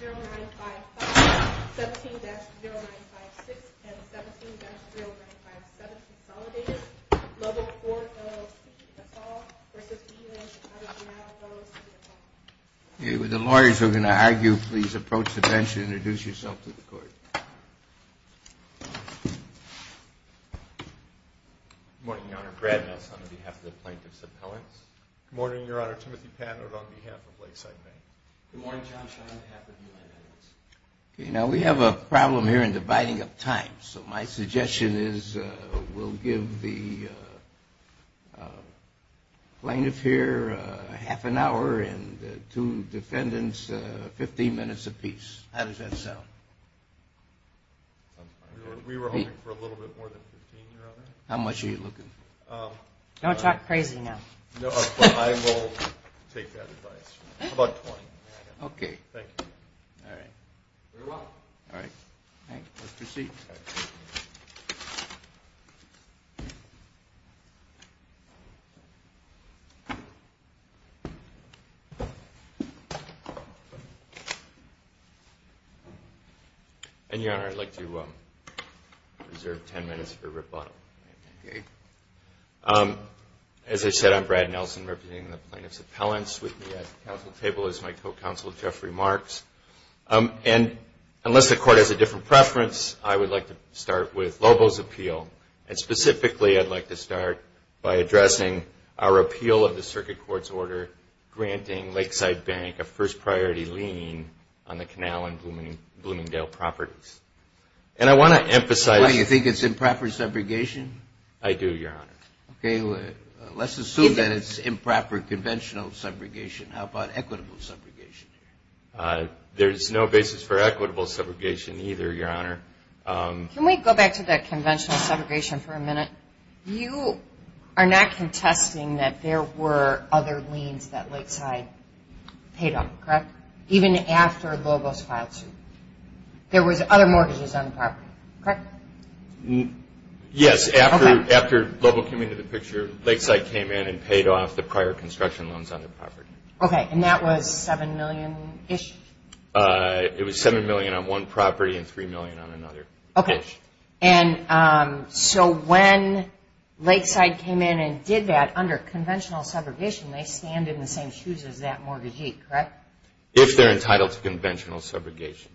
0955, 17-0956, and 17-0957, consolidated, Lobo IV, LLC, that's all, versus V Land Chicago Canal, LLC, that's all. If the lawyers are going to argue, please approach the bench and introduce yourself to the court. Good morning, Your Honor. Brad Nelson on behalf of the Plaintiff's Appellants. Good morning, Your Honor. Timothy Patner on behalf of Lakeside Bank. Good morning, John Shaw on behalf of U.N. Edwards. Now, we have a problem here in dividing up time, so my suggestion is we'll give the plaintiff here half an hour and two defendants 15 minutes apiece. How does that sound? We were hoping for a little bit more than 15, Your Honor. How much are you looking for? Don't talk crazy now. No, but I will take that advice. How about 20? Okay. Thank you. All right. Very well. All right. Let's proceed. And, Your Honor, I'd like to reserve 10 minutes for rebuttal. Okay. As I said, I'm Brad Nelson representing the Plaintiff's Appellants. With me at the council table is my co-counsel, Jeffrey Marks. And unless the court has a different preference, I would like to start with Lobo's appeal. And specifically, I'd like to start by addressing our appeal of the circuit court's order granting Lakeside Bank a first-priority lien on the Canal and Bloomingdale properties. And I want to emphasize Do you think it's improper segregation? I do, Your Honor. Okay. Let's assume that it's improper conventional segregation. How about equitable segregation? There's no basis for equitable segregation either, Your Honor. Can we go back to that conventional segregation for a minute? You are not contesting that there were other liens that Lakeside paid off, correct? Even after Lobo's filed suit. There was other mortgages on the property, correct? Yes. After Lobo came into the picture, Lakeside came in and paid off the prior construction loans on the property. Okay. And that was $7 million-ish? It was $7 million on one property and $3 million on another-ish. Okay. And so when Lakeside came in and did that under conventional segregation, they stand in the same shoes as that mortgagee, correct? If they're entitled to conventional segregation.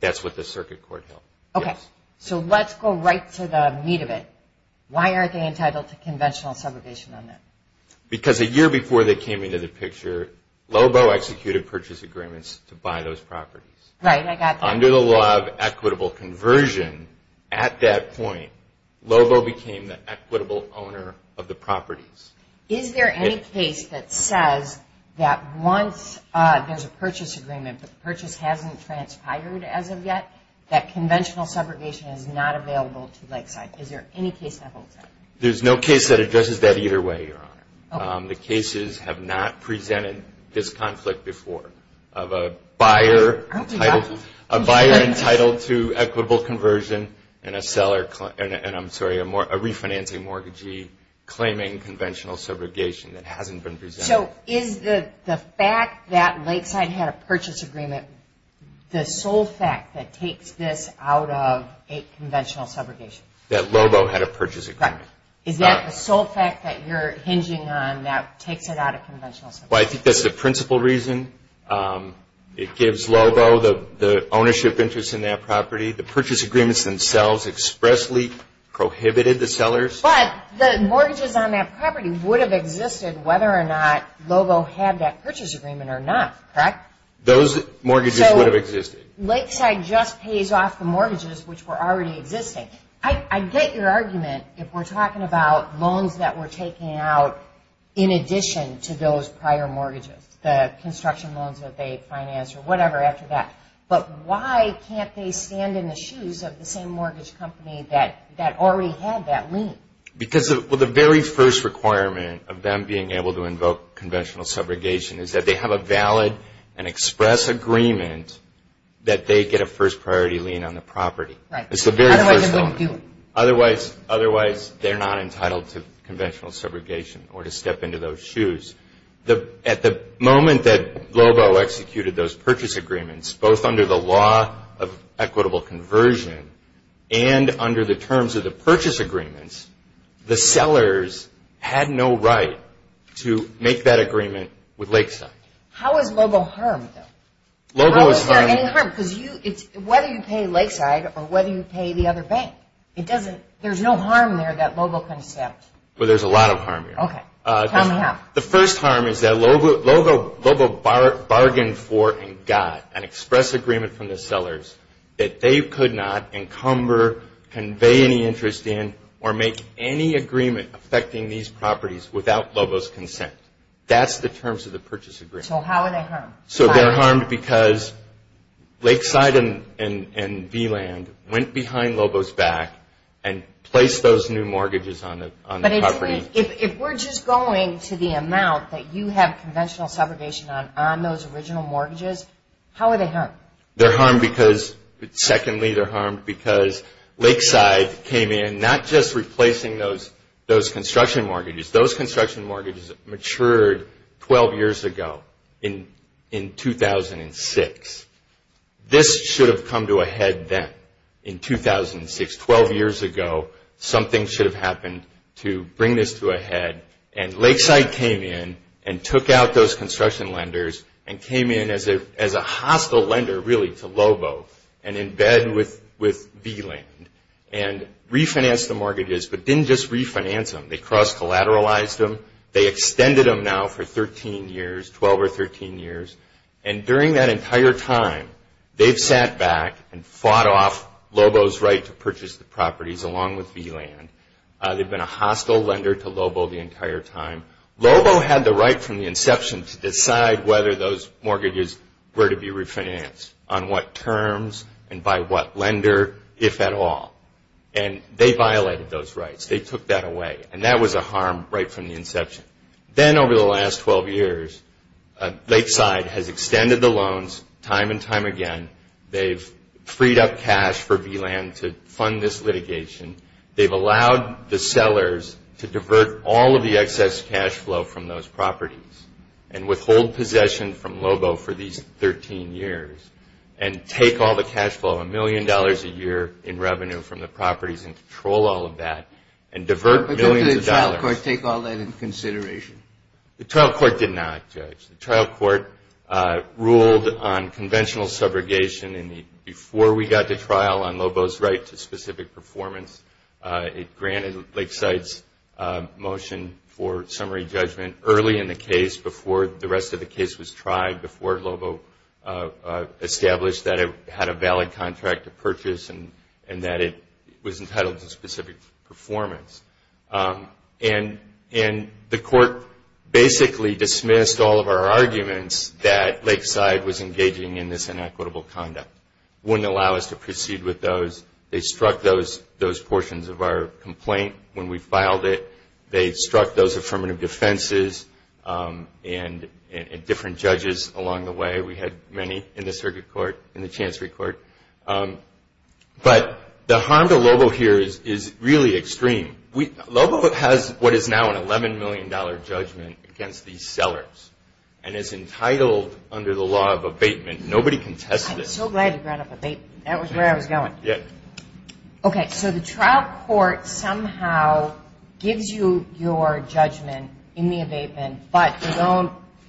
That's what the circuit court held. Okay. Yes. So let's go right to the meat of it. Why aren't they entitled to conventional segregation on that? Because a year before they came into the picture, Lobo executed purchase agreements to buy those properties. Right, I got that. Under the law of equitable conversion, at that point, Lobo became the equitable owner of the properties. Is there any case that says that once there's a purchase agreement, but the purchase hasn't transpired as of yet, that conventional segregation is not available to Lakeside? Is there any case that holds that? There's no case that addresses that either way, Your Honor. Okay. The cases have not presented this conflict before of a buyer entitled to equitable conversion and a refinancing mortgagee claiming conventional segregation that hasn't been presented. So is the fact that Lakeside had a purchase agreement the sole fact that takes this out of a conventional segregation? That Lobo had a purchase agreement. Is that the sole fact that you're hinging on that takes it out of conventional segregation? Well, I think that's the principal reason. It gives Lobo the ownership interest in that property. The purchase agreements themselves expressly prohibited the sellers. But the mortgages on that property would have existed whether or not Lobo had that purchase agreement or not, correct? Those mortgages would have existed. So Lakeside just pays off the mortgages which were already existing. I get your argument if we're talking about loans that were taken out in addition to those prior mortgages, the construction loans that they financed or whatever after that. But why can't they stand in the shoes of the same mortgage company that already had that lien? Well, the very first requirement of them being able to invoke conventional segregation is that they have a valid and express agreement that they get a first priority lien on the property. Right. Otherwise they wouldn't do it. Otherwise they're not entitled to conventional segregation or to step into those shoes. At the moment that Lobo executed those purchase agreements, both under the law of equitable conversion and under the terms of the purchase agreements, the sellers had no right to make that agreement with Lakeside. How is Lobo harmed, though? Lobo is harmed. Well, is there any harm? Because whether you pay Lakeside or whether you pay the other bank, there's no harm there that Lobo can accept. Well, there's a lot of harm here. Okay. Tell me how. The first harm is that Lobo bargained for and got an express agreement from the sellers that they could not encumber, convey any interest in, or make any agreement affecting these properties without Lobo's consent. That's the terms of the purchase agreement. So how are they harmed? So they're harmed because Lakeside and V-Land went behind Lobo's back and placed those new mortgages on the property. But if we're just going to the amount that you have conventional subrogation on on those original mortgages, how are they harmed? They're harmed because, secondly, they're harmed because Lakeside came in, not just replacing those construction mortgages. Those construction mortgages matured 12 years ago in 2006. This should have come to a head then in 2006. Twelve years ago, something should have happened to bring this to a head. And Lakeside came in and took out those construction lenders and came in as a hostile lender, really, to Lobo and in bed with V-Land and refinanced the mortgages, but didn't just refinance them. They cross-collateralized them. They extended them now for 13 years, 12 or 13 years. And during that entire time, they've sat back and fought off Lobo's right to purchase the properties along with V-Land. They've been a hostile lender to Lobo the entire time. Lobo had the right from the inception to decide whether those mortgages were to be refinanced, on what terms and by what lender, if at all. And they violated those rights. They took that away. And that was a harm right from the inception. Then over the last 12 years, Lakeside has extended the loans time and time again. They've freed up cash for V-Land to fund this litigation. They've allowed the sellers to divert all of the excess cash flow from those properties and withhold possession from Lobo for these 13 years and take all the cash flow, a million dollars a year in revenue from the properties and control all of that and divert millions of dollars. Did the trial court take all that into consideration? The trial court did not, Judge. The trial court ruled on conventional subrogation. And before we got to trial on Lobo's right to specific performance, it granted Lakeside's motion for summary judgment early in the case, before the rest of the case was tried, before Lobo established that it had a valid contract to purchase and that it was entitled to specific performance. And the court basically dismissed all of our arguments that Lakeside was engaging in this inequitable conduct, wouldn't allow us to proceed with those. They struck those portions of our complaint when we filed it. They struck those affirmative defenses and different judges along the way. We had many in the circuit court, in the chancery court. But the harm to Lobo here is really extreme. Lobo has what is now an $11 million judgment against these sellers and is entitled under the law of abatement. Nobody can test this. I'm so glad you brought up abatement. That was where I was going. Yeah. Okay, so the trial court somehow gives you your judgment in the abatement, but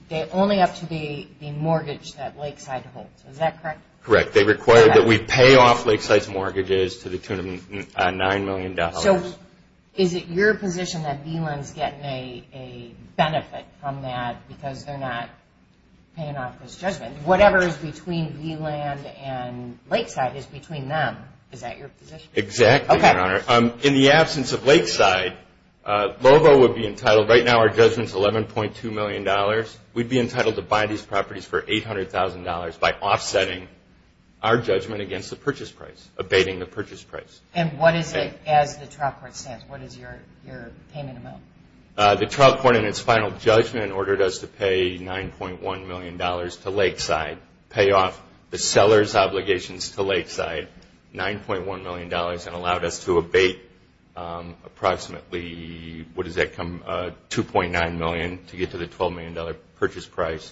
they're only up to the mortgage that Lakeside holds. Is that correct? Correct. They require that we pay off Lakeside's mortgages to the tune of $9 million. So is it your position that V-Land is getting a benefit from that because they're not paying off this judgment? Whatever is between V-Land and Lakeside is between them. Is that your position? Exactly, Your Honor. Okay. In the absence of Lakeside, Lobo would be entitled. Right now our judgment is $11.2 million. We'd be entitled to buy these properties for $800,000 by offsetting our judgment against the purchase price, abating the purchase price. And what is it as the trial court stands? What is your payment amount? The trial court in its final judgment ordered us to pay $9.1 million to Lakeside, pay off the seller's obligations to Lakeside, $9.1 million, and allowed us to abate approximately, what does that come, $2.9 million to get to the $12 million purchase price,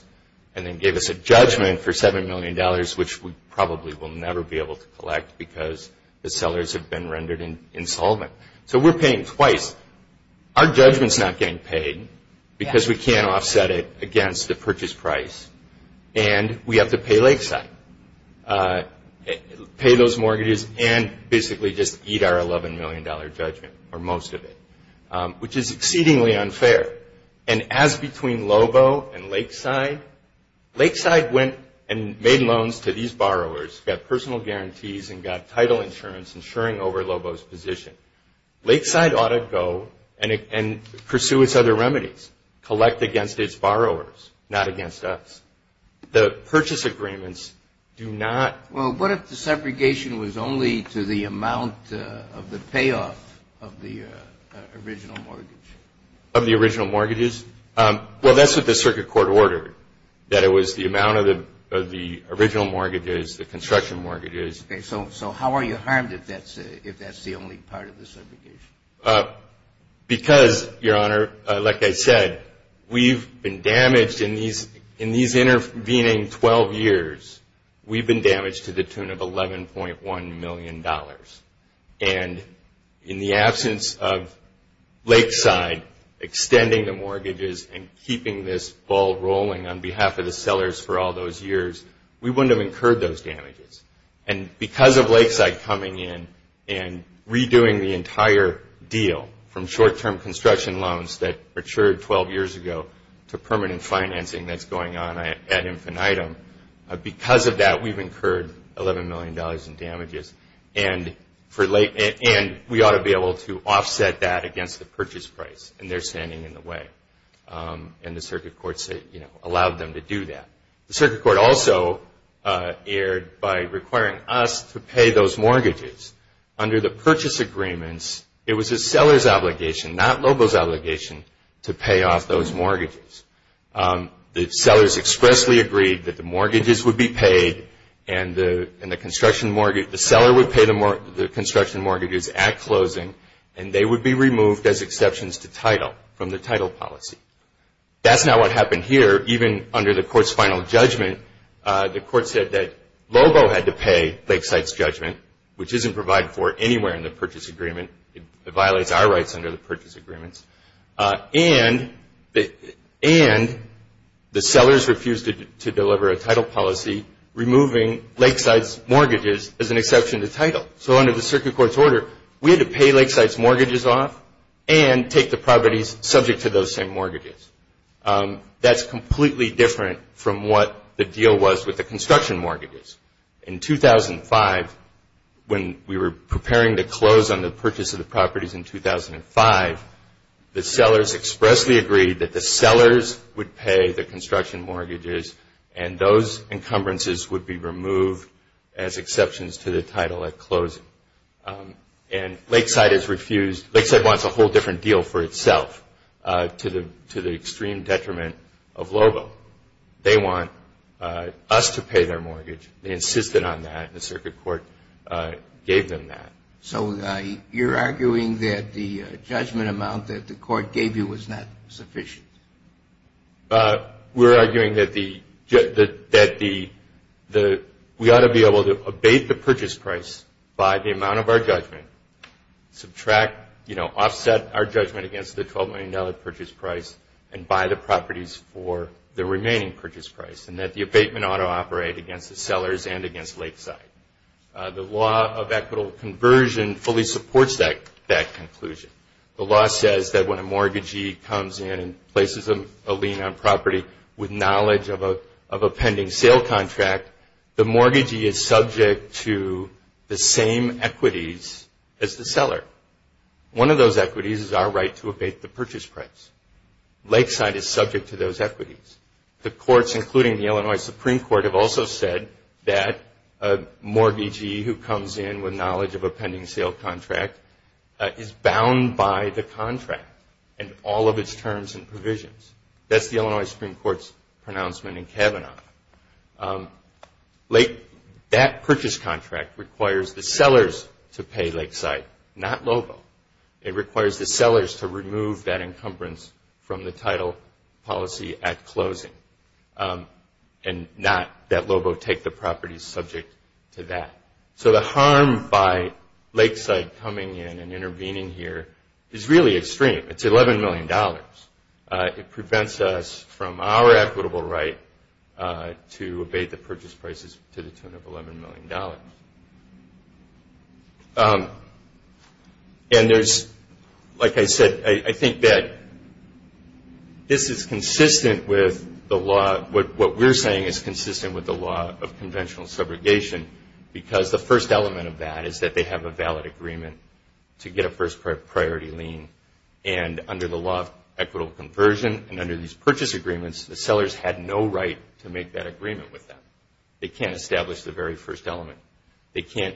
and then gave us a judgment for $7 million, which we probably will never be able to collect because the sellers have been rendered insolvent. So we're paying twice. Our judgment's not getting paid because we can't offset it against the purchase price, and we have to pay Lakeside. Pay those mortgages and basically just eat our $11 million judgment, or most of it, which is exceedingly unfair. And as between Lobo and Lakeside, Lakeside went and made loans to these borrowers, got personal guarantees and got title insurance insuring over Lobo's position. Lakeside ought to go and pursue its other remedies, collect against its borrowers, not against us. The purchase agreements do not. Well, what if the segregation was only to the amount of the payoff of the original mortgage? Of the original mortgages? Well, that's what the circuit court ordered, that it was the amount of the original mortgages, the construction mortgages. Okay. So how are you harmed if that's the only part of the segregation? Because, Your Honor, like I said, we've been damaged in these intervening 12 years, we've been damaged to the tune of $11.1 million. And in the absence of Lakeside extending the mortgages and keeping this ball rolling on behalf of the sellers for all those years, we wouldn't have incurred those damages. And because of Lakeside coming in and redoing the entire deal from short-term construction loans that matured 12 years ago to permanent financing that's going on ad infinitum, because of that we've incurred $11 million in damages. And we ought to be able to offset that against the purchase price, and they're standing in the way. And the circuit court allowed them to do that. The circuit court also erred by requiring us to pay those mortgages. Under the purchase agreements, it was the seller's obligation, not Lobo's obligation, to pay off those mortgages. The sellers expressly agreed that the mortgages would be paid and the construction mortgage, the seller would pay the construction mortgages at closing and they would be removed as exceptions to title from the title policy. That's not what happened here. Even under the court's final judgment, the court said that Lobo had to pay Lakeside's judgment, which isn't provided for anywhere in the purchase agreement. It violates our rights under the purchase agreements. And the sellers refused to deliver a title policy removing Lakeside's mortgages as an exception to title. So under the circuit court's order, we had to pay Lakeside's mortgages off and take the properties subject to those same mortgages. That's completely different from what the deal was with the construction mortgages. In 2005, when we were preparing to close on the purchase of the properties in 2005, the sellers expressly agreed that the sellers would pay the construction mortgages and those encumbrances would be removed as exceptions to the title at closing. And Lakeside has refused. Lakeside wants a whole different deal for itself to the extreme detriment of Lobo. They want us to pay their mortgage. They insisted on that. The circuit court gave them that. So you're arguing that the judgment amount that the court gave you was not sufficient? We're arguing that we ought to be able to abate the purchase price by the amount of our judgment, subtract, you know, offset our judgment against the $12 million purchase price and buy the properties for the remaining purchase price and that the abatement ought to operate against the sellers and against Lakeside. The law of equitable conversion fully supports that conclusion. The law says that when a mortgagee comes in and places a lien on property with knowledge of a pending sale contract, the mortgagee is subject to the same equities as the seller. One of those equities is our right to abate the purchase price. Lakeside is subject to those equities. The courts, including the Illinois Supreme Court, have also said that a mortgagee who comes in with knowledge of a pending sale contract is bound by the contract and all of its terms and provisions. That's the Illinois Supreme Court's pronouncement in Kavanaugh. That purchase contract requires the sellers to pay Lakeside, not Lobo. It requires the sellers to remove that encumbrance from the title policy at closing and not that Lobo take the properties subject to that. So the harm by Lakeside coming in and intervening here is really extreme. It's $11 million. It prevents us from our equitable right to abate the purchase prices to the tune of $11 million. And there's, like I said, I think that this is consistent with the law. The first element of that is that they have a valid agreement to get a first priority lien. And under the law of equitable conversion and under these purchase agreements, the sellers had no right to make that agreement with them. They can't establish the very first element. They can't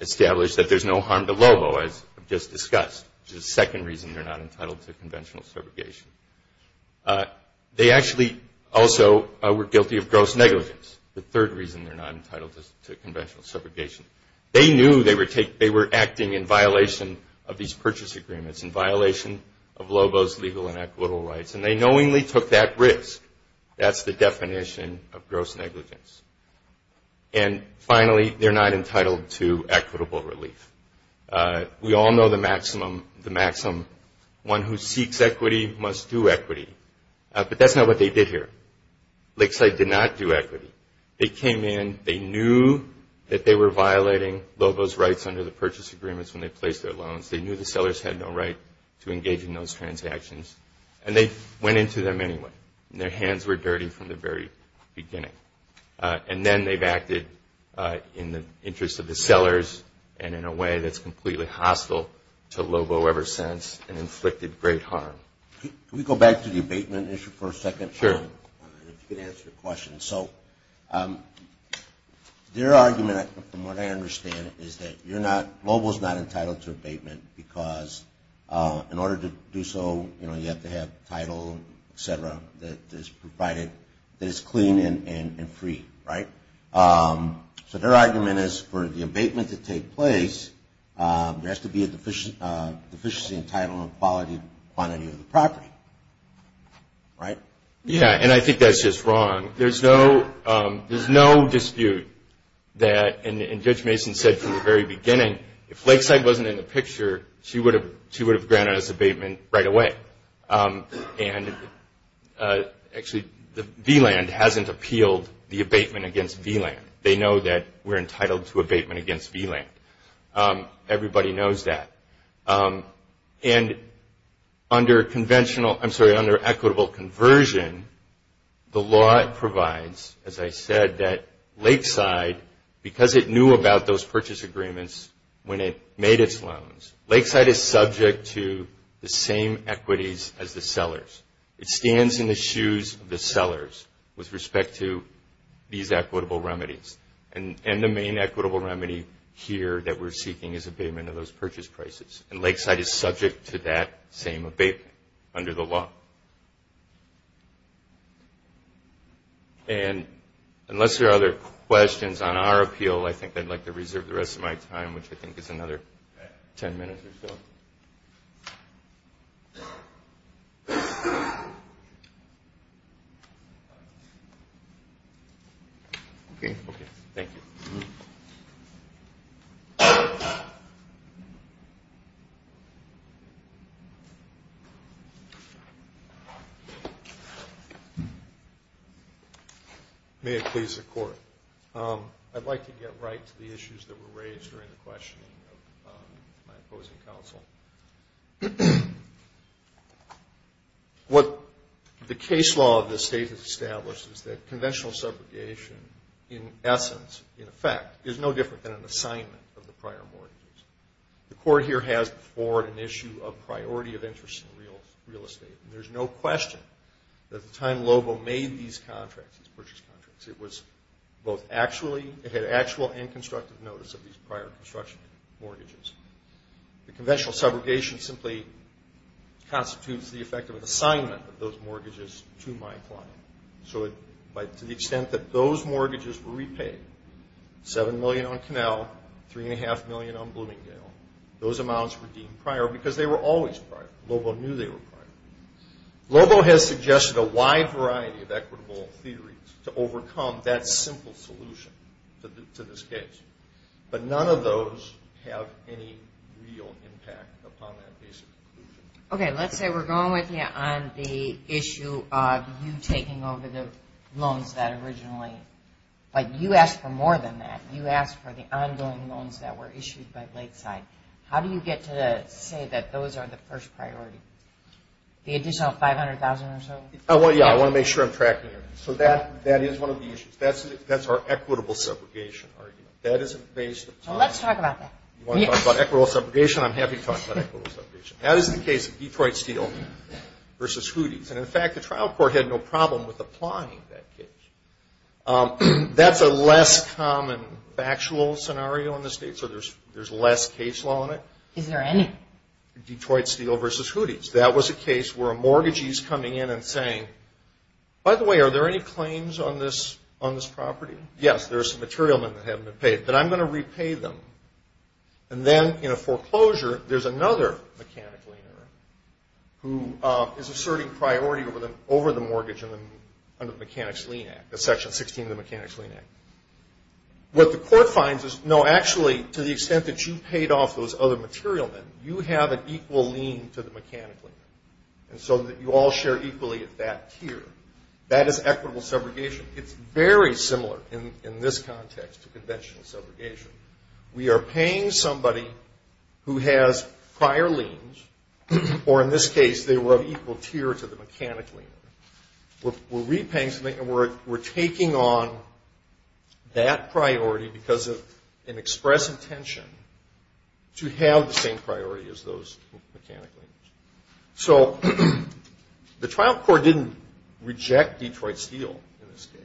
establish that there's no harm to Lobo, as I've just discussed, which is the second reason they're not entitled to conventional subrogation. They actually also were guilty of gross negligence, the third reason they're not entitled to conventional subrogation. They knew they were acting in violation of these purchase agreements, in violation of Lobo's legal and equitable rights, and they knowingly took that risk. That's the definition of gross negligence. And finally, they're not entitled to equitable relief. We all know the maximum one who seeks equity must do equity. But that's not what they did here. Lakeside did not do equity. They came in. They knew that they were violating Lobo's rights under the purchase agreements when they placed their loans. They knew the sellers had no right to engage in those transactions, and they went into them anyway. Their hands were dirty from the very beginning. And then they've acted in the interest of the sellers and in a way that's completely hostile to Lobo ever since and inflicted great harm. Can we go back to the abatement issue for a second? Sure. If you could answer the question. So their argument, from what I understand, is that Lobo's not entitled to abatement because in order to do so, you have to have title, et cetera, that is provided, that is clean and free, right? So their argument is for the abatement to take place, there has to be a deficiency in title and quality on any of the property, right? Yeah, and I think that's just wrong. There's no dispute that, and Judge Mason said from the very beginning, if Lakeside wasn't in the picture, she would have granted us abatement right away. And actually, V-Land hasn't appealed the abatement against V-Land. They know that we're entitled to abatement against V-Land. Everybody knows that. And under equitable conversion, the law provides, as I said, that Lakeside, because it knew about those purchase agreements when it made its loans, Lakeside is subject to the same equities as the sellers. It stands in the shoes of the sellers with respect to these equitable remedies. And the main equitable remedy here that we're seeking is abatement of those purchase prices. And Lakeside is subject to that same abatement under the law. And unless there are other questions on our appeal, I think I'd like to reserve the rest of my time, which I think is another ten minutes or so. Okay. Thank you. May it please the Court. I'd like to get right to the issues that were raised during the questioning of my opposing counsel. What the case law of this State has established is that conventional subrogation, in essence, in effect, is no different than an assignment of the prior mortgages. The Court here has before it an issue of priority of interest in real estate. And there's no question that the time Lobo made these contracts, these purchase contracts, it had actual and constructive notice of these prior construction mortgages. The conventional subrogation simply constitutes the effect of an assignment of those mortgages to my client. So to the extent that those mortgages were repaid, $7 million on Canal, $3.5 million on Bloomingdale, those amounts were deemed prior because they were always prior. Lobo knew they were prior. Lobo has suggested a wide variety of equitable theories to overcome that simple solution to this case. But none of those have any real impact upon that basic conclusion. Okay. Let's say we're going with you on the issue of you taking over the loans that originally, but you asked for more than that. You asked for the ongoing loans that were issued by Lakeside. How do you get to say that those are the first priority? The additional $500,000 or so? Well, yeah, I want to make sure I'm tracking everything. So that is one of the issues. That's our equitable subrogation argument. That isn't based upon. Well, let's talk about that. You want to talk about equitable subrogation, I'm happy to talk about equitable subrogation. That is the case of Detroit Steel versus Hooties. And, in fact, the trial court had no problem with applying that case. That's a less common factual scenario in the state. So there's less case law in it. Is there any? Detroit Steel versus Hooties. That was a case where a mortgagee is coming in and saying, by the way, are there any claims on this property? Yes, there are some material that haven't been paid, but I'm going to repay them. And then in a foreclosure, there's another mechanic leaner who is asserting priority over the mortgage under the Mechanics' Lien Act, Section 16 of the Mechanics' Lien Act. What the court finds is, no, actually, to the extent that you paid off those other material, you have an equal lien to the mechanic leaner, and so you all share equally at that tier. That is equitable subrogation. It's very similar in this context to conventional subrogation. We are paying somebody who has prior liens, or in this case, they were of equal tier to the mechanic leaner. We're repaying somebody and we're taking on that priority because of an express intention to have the same priority as those mechanic leaners. So the trial court didn't reject Detroit Steel in this case.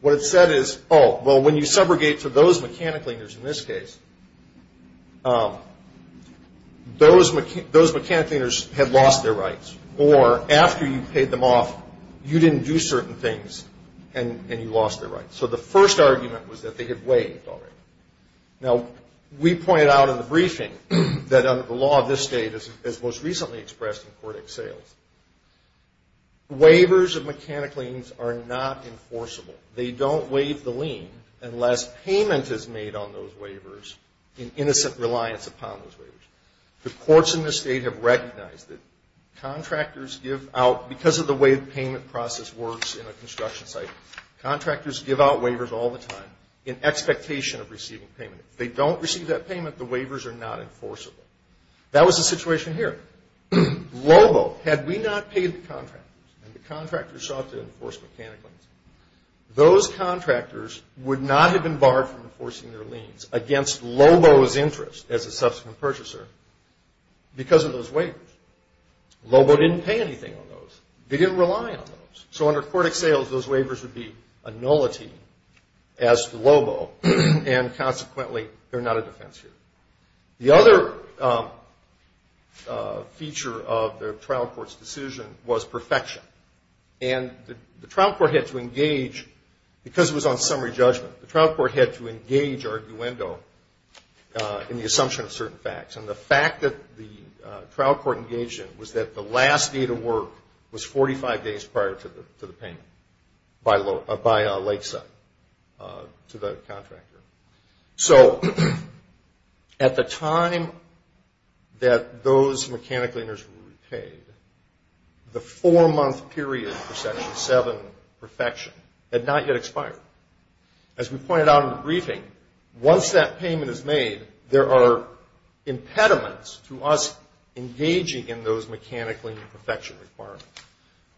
What it said is, oh, well, when you subrogate to those mechanic leaners in this case, those mechanic leaners had lost their rights, or after you paid them off, you didn't do certain things and you lost their rights. So the first argument was that they had waived already. Now, we pointed out in the briefing that under the law of this state, as most recently expressed in court ex sales, waivers of mechanic liens are not enforceable. They don't waive the lien unless payment is made on those waivers in innocent reliance upon those waivers. The courts in this state have recognized that contractors give out, because of the way the payment process works in a construction site, contractors give out waivers all the time in expectation of receiving payment. If they don't receive that payment, the waivers are not enforceable. That was the situation here. Lobo, had we not paid the contractors, and the contractors sought to enforce mechanic liens, those contractors would not have been barred from enforcing their liens against Lobo's interest as a subsequent purchaser because of those waivers. Lobo didn't pay anything on those. They didn't rely on those. So under court ex sales, those waivers would be a nullity as to Lobo, and consequently, they're not a defense here. The other feature of the trial court's decision was perfection. And the trial court had to engage, because it was on summary judgment, the trial court had to engage arguendo in the assumption of certain facts. And the fact that the trial court engaged in it was that the last day to work was 45 days prior to the payment by Lakeside to the contractor. So at the time that those mechanic lieners were repaid, the four-month period for Section 7, perfection, had not yet expired. As we pointed out in the briefing, once that payment is made, there are impediments to us engaging in those mechanic lien perfection requirements.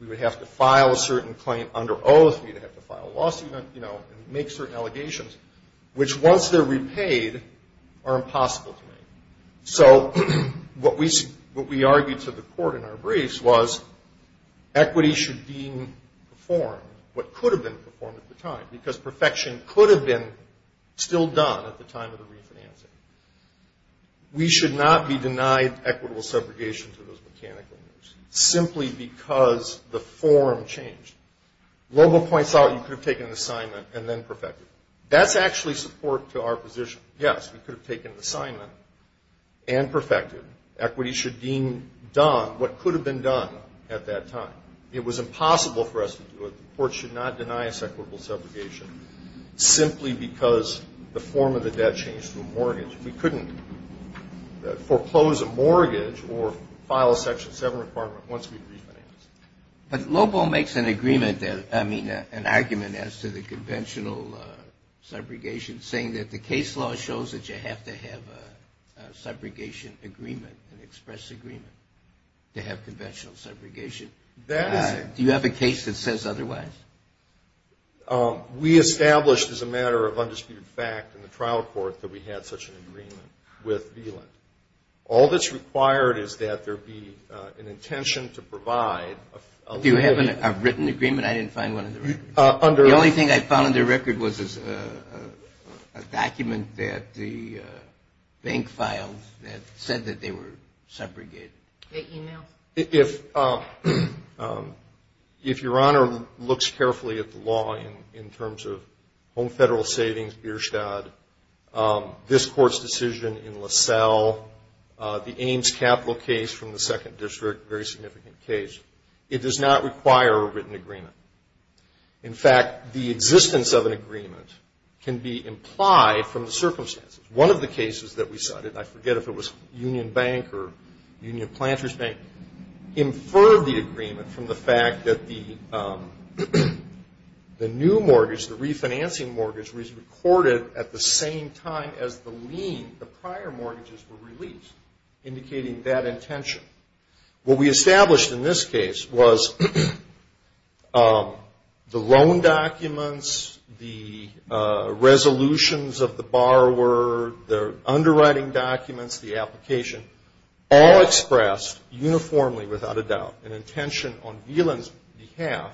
We would have to file a certain claim under oath. We would have to file a lawsuit and make certain allegations, which once they're repaid are impossible to make. So what we argued to the court in our briefs was equity should be performed, what could have been performed at the time, because perfection could have been still done at the time of the refinancing. We should not be denied equitable subrogation to those mechanical lieners, simply because the form changed. Lobo points out you could have taken an assignment and then perfected it. That's actually support to our position. Yes, we could have taken an assignment and perfected it. Equity should deem done what could have been done at that time. It was impossible for us to do it. The court should not deny us equitable subrogation simply because the form of the debt changed to a mortgage. We couldn't foreclose a mortgage or file a Section 7 requirement once we refinanced it. But Lobo makes an agreement, I mean, an argument as to the conventional subrogation, saying that the case law shows that you have to have a subrogation agreement, an express agreement to have conventional subrogation. Do you have a case that says otherwise? We established as a matter of undisputed fact in the trial court that we had such an agreement with VLIN. All that's required is that there be an intention to provide a limit. Do you have a written agreement? I didn't find one in the records. The only thing I found in the record was a document that the bank filed that said that they were subrogated. They emailed. If Your Honor looks carefully at the law in terms of home federal savings, Beerstadt, this Court's decision in LaSalle, the Ames Capital case from the Second District, a very significant case, it does not require a written agreement. In fact, the existence of an agreement can be implied from the circumstances. One of the cases that we cited, and I forget if it was Union Bank or Union Planters Bank, inferred the agreement from the fact that the new mortgage, the refinancing mortgage, was recorded at the same time as the lien, the prior mortgages were released, indicating that intention. What we established in this case was the loan documents, the resolutions of the borrower, the underwriting documents, the application, all expressed uniformly without a doubt an intention on VLIN's behalf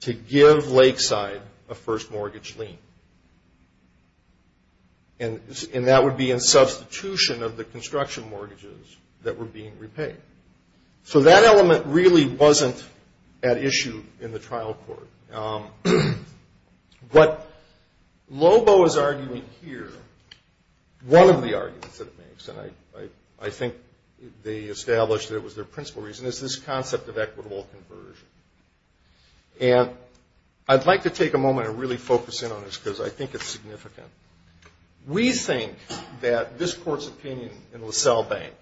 to give Lakeside a first mortgage lien. And that would be in substitution of the construction mortgages that were being repaid. So that element really wasn't at issue in the trial court. What Lobo is arguing here, one of the arguments that it makes, and I think they established that it was their principal reason, is this concept of equitable conversion. And I'd like to take a moment and really focus in on this because I think it's significant. We think that this court's opinion in LaSalle Bank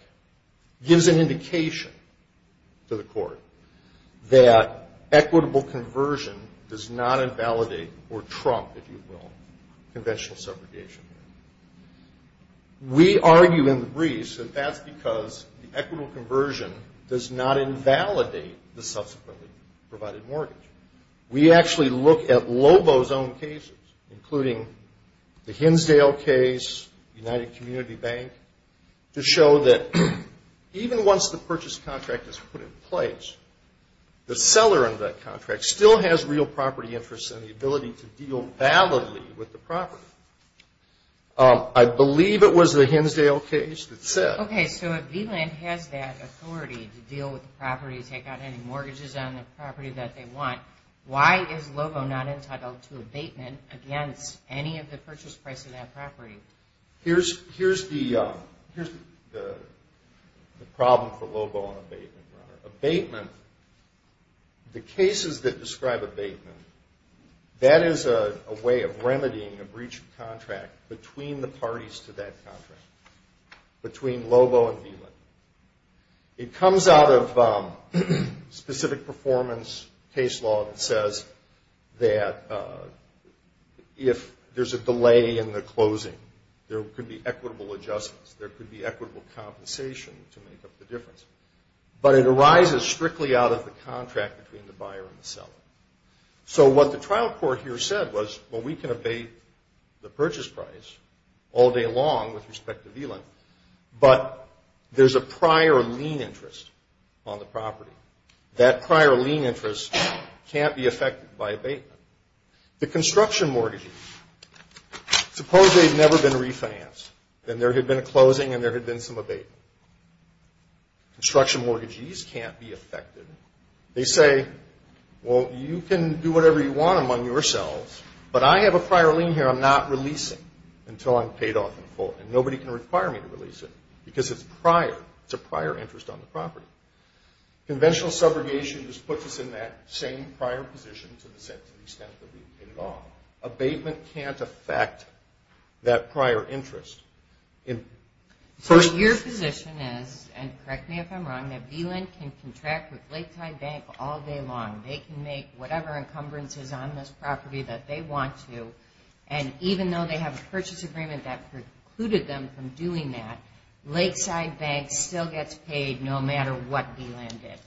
gives an indication to the court that equitable conversion does not invalidate, or trump, if you will, conventional subrogation. We argue in the briefs that that's because the equitable conversion does not invalidate the subsequently provided mortgage. We actually look at Lobo's own cases, including the Hinsdale case, United Community Bank, to show that even once the purchase contract is put in place, the seller of that contract still has real property interests and the ability to deal validly with the property. I believe it was the Hinsdale case that said... Okay, so if VLIN has that authority to deal with the property, take out any mortgages on the property that they want, why is Lobo not entitled to abatement against any of the purchase price of that property? Abatement, the cases that describe abatement, that is a way of remedying a breach of contract between the parties to that contract, between Lobo and VLIN. It comes out of specific performance case law that says that if there's a delay in the closing, there could be equitable adjustments, there could be equitable compensation to make up the difference. But it arises strictly out of the contract between the buyer and the seller. So what the trial court here said was, well, we can abate the purchase price all day long with respect to VLIN, but there's a prior lien interest on the property. That prior lien interest can't be affected by abatement. The construction mortgages, suppose they've never been refinanced, then there had been a closing and there had been some abatement. Construction mortgages can't be affected. They say, well, you can do whatever you want among yourselves, but I have a prior lien here I'm not releasing until I'm paid off in full, and nobody can require me to release it because it's prior, it's a prior interest on the property. Conventional subrogation just puts us in that same prior position to the extent that we've paid it off. Abatement can't affect that prior interest. So your position is, and correct me if I'm wrong, that VLIN can contract with Lakeside Bank all day long. They can make whatever encumbrances on this property that they want to, and even though they have a purchase agreement that precluded them from doing that, Lakeside Bank still gets paid no matter what VLIN did.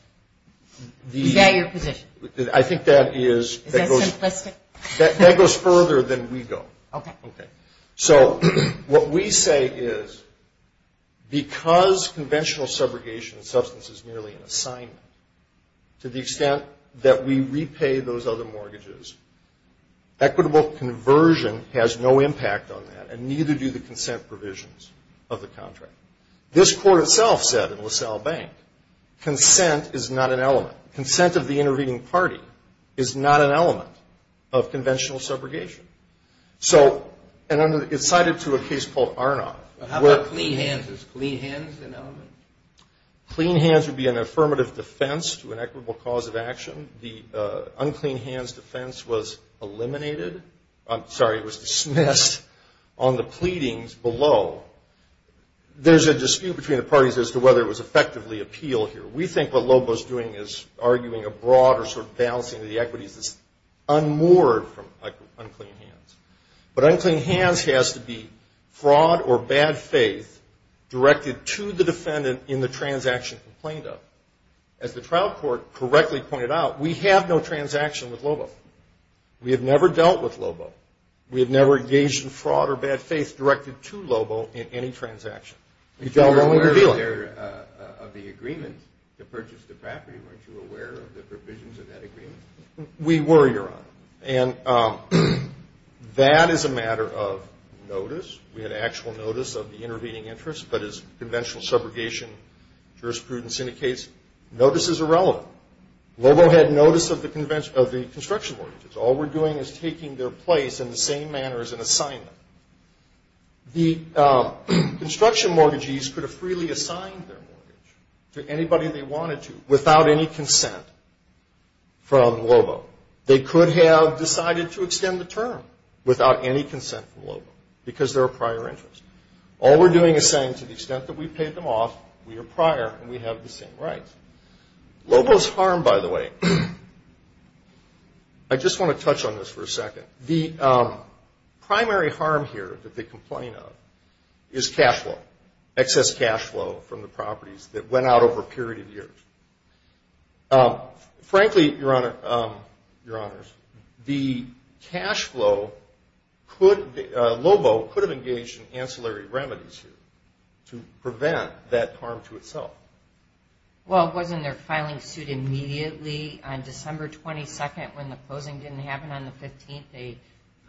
Is that your position? I think that is – Is that simplistic? That goes further than we go. Okay. So what we say is because conventional subrogation and substance is merely an assignment, to the extent that we repay those other mortgages, equitable conversion has no impact on that, and neither do the consent provisions of the contract. This court itself said in LaSalle Bank, consent is not an element. Consent of the intervening party is not an element of conventional subrogation. So it's cited to a case called Arnott. How about clean hands? Is clean hands an element? Clean hands would be an affirmative defense to an equitable cause of action. The unclean hands defense was eliminated – I'm sorry, it was dismissed on the pleadings below. There's a dispute between the parties as to whether it was effectively appeal here. We think what Lobo is doing is arguing a broader sort of balancing of the equities that's unmoored from unclean hands. But unclean hands has to be fraud or bad faith directed to the defendant in the transaction complained of. As the trial court correctly pointed out, we have no transaction with Lobo. We have never dealt with Lobo. We have never engaged in fraud or bad faith directed to Lobo in any transaction. You were aware of the agreement to purchase the property. Weren't you aware of the provisions of that agreement? We were, Your Honor. And that is a matter of notice. We had actual notice of the intervening interest, but as conventional subrogation jurisprudence indicates, notice is irrelevant. Lobo had notice of the construction mortgage. All we're doing is taking their place in the same manner as an assignment. The construction mortgagees could have freely assigned their mortgage to anybody they wanted to without any consent from Lobo. They could have decided to extend the term without any consent from Lobo because they're a prior interest. All we're doing is saying to the extent that we paid them off, we are prior and we have the same rights. Lobo's harm, by the way, I just want to touch on this for a second. The primary harm here that they complain of is cash flow, excess cash flow from the properties that went out over a period of years. Frankly, Your Honor, Your Honors, the cash flow could – Lobo could have engaged in ancillary remedies here to prevent that harm to itself. Well, wasn't their filing suit immediately on December 22nd when the closing didn't happen on the 15th a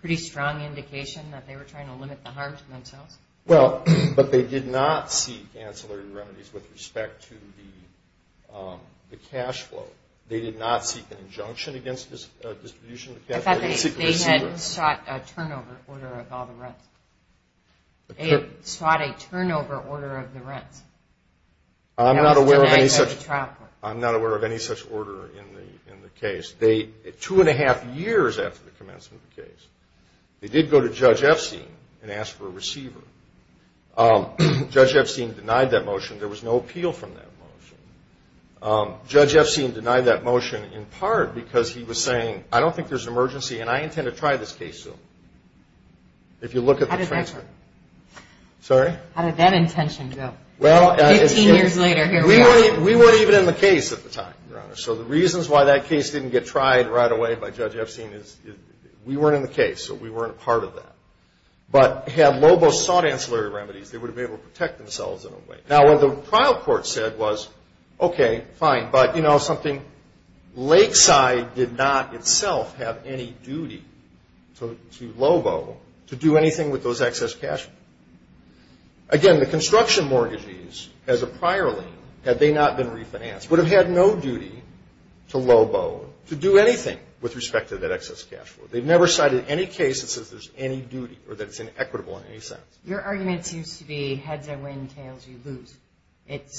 pretty strong indication that they were trying to limit the harm to themselves? Well, but they did not seek ancillary remedies with respect to the cash flow. They did not seek an injunction against distribution of the cash flow. I thought they had sought a turnover order of all the rents. They had sought a turnover order of the rents. I'm not aware of any such order in the case. Two and a half years after the commencement of the case, they did go to Judge Epstein and ask for a receiver. Judge Epstein denied that motion. There was no appeal from that motion. Judge Epstein denied that motion in part because he was saying, I don't think there's an emergency and I intend to try this case soon. If you look at the transcript. How did that go? Sorry? How did that intention go 15 years later? We weren't even in the case at the time, Your Honor. So the reasons why that case didn't get tried right away by Judge Epstein is we weren't in the case, so we weren't part of that. But had Lobo sought ancillary remedies, they would have been able to protect themselves in a way. Now, what the trial court said was, okay, fine, but, you know, something. Lakeside did not itself have any duty to Lobo to do anything with those excess cash. Again, the construction mortgages as a prior lien, had they not been refinanced, would have had no duty to Lobo to do anything with respect to that excess cash. They've never cited any case that says there's any duty or that it's inequitable in any sense. Your argument seems to be heads are win, tails are lose. It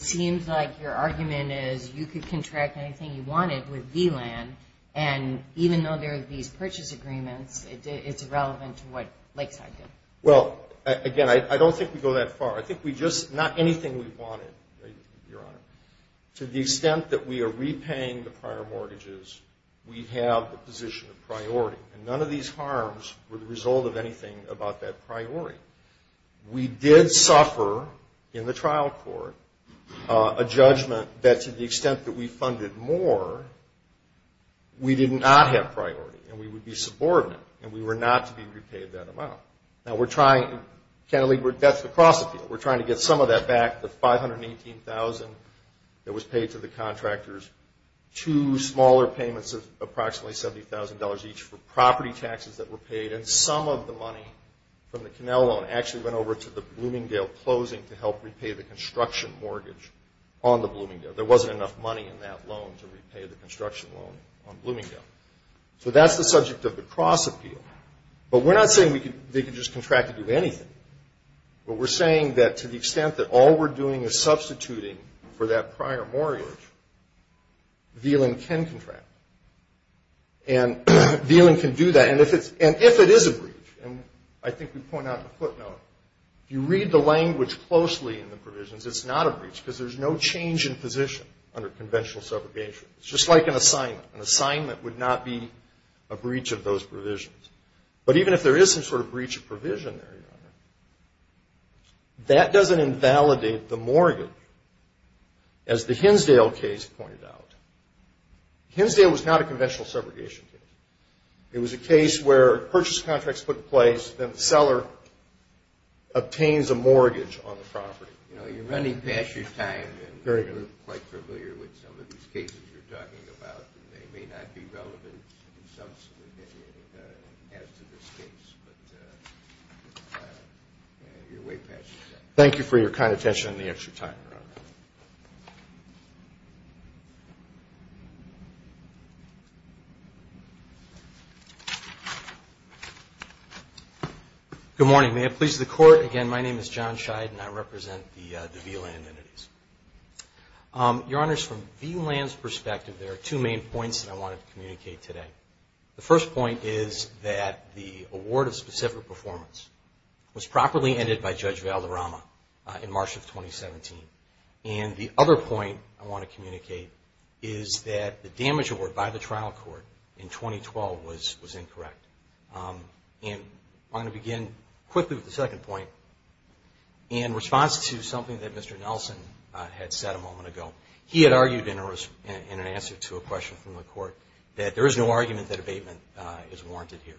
seems like your argument is you could contract anything you wanted with VLAN, and even though there are these purchase agreements, it's irrelevant to what Lakeside did. Well, again, I don't think we go that far. I think we just not anything we wanted, Your Honor. To the extent that we are repaying the prior mortgages, we have the position of priority, and none of these harms were the result of anything about that priority. We did suffer in the trial court a judgment that to the extent that we funded more, we did not have priority, and we would be subordinate, and we were not to be repaid that amount. Now, we're trying to get some of that back, the $518,000 that was paid to the contractors, two smaller payments of approximately $70,000 each for property taxes that were paid, and some of the money from the Connell loan actually went over to the Bloomingdale closing to help repay the construction mortgage on the Bloomingdale. There wasn't enough money in that loan to repay the construction loan on Bloomingdale. So that's the subject of the cross appeal. But we're not saying they can just contract to do anything, but we're saying that to the extent that all we're doing is substituting for that prior mortgage, Veland can contract, and Veland can do that. And if it is a breach, and I think we point out in the footnote, if you read the language closely in the provisions, it's not a breach, because there's no change in position under conventional subrogation. It's just like an assignment. An assignment would not be a breach of those provisions. But even if there is some sort of breach of provision there, Your Honor, that doesn't invalidate the mortgage, as the Hinsdale case pointed out. Hinsdale was not a conventional subrogation case. It was a case where purchase contracts put in place, then the seller obtains a mortgage on the property. You know, you're running past your time. You're quite familiar with some of these cases you're talking about. They may not be relevant as to this case, but you're way past your time. Thank you for your kind attention and the extra time, Your Honor. Good morning. May it please the Court. Again, my name is John Scheid, and I represent the VLAND entities. Your Honors, from VLAND's perspective, there are two main points that I wanted to communicate today. The first point is that the award of specific performance was properly ended by Judge Valderrama in March of 2017. And the other point I want to communicate is that the damage award by the trial court in 2012 was incorrect. And I'm going to begin quickly with the second point in response to something that Mr. Nelson had said a moment ago. He had argued in an answer to a question from the Court that there is no argument that abatement is warranted here.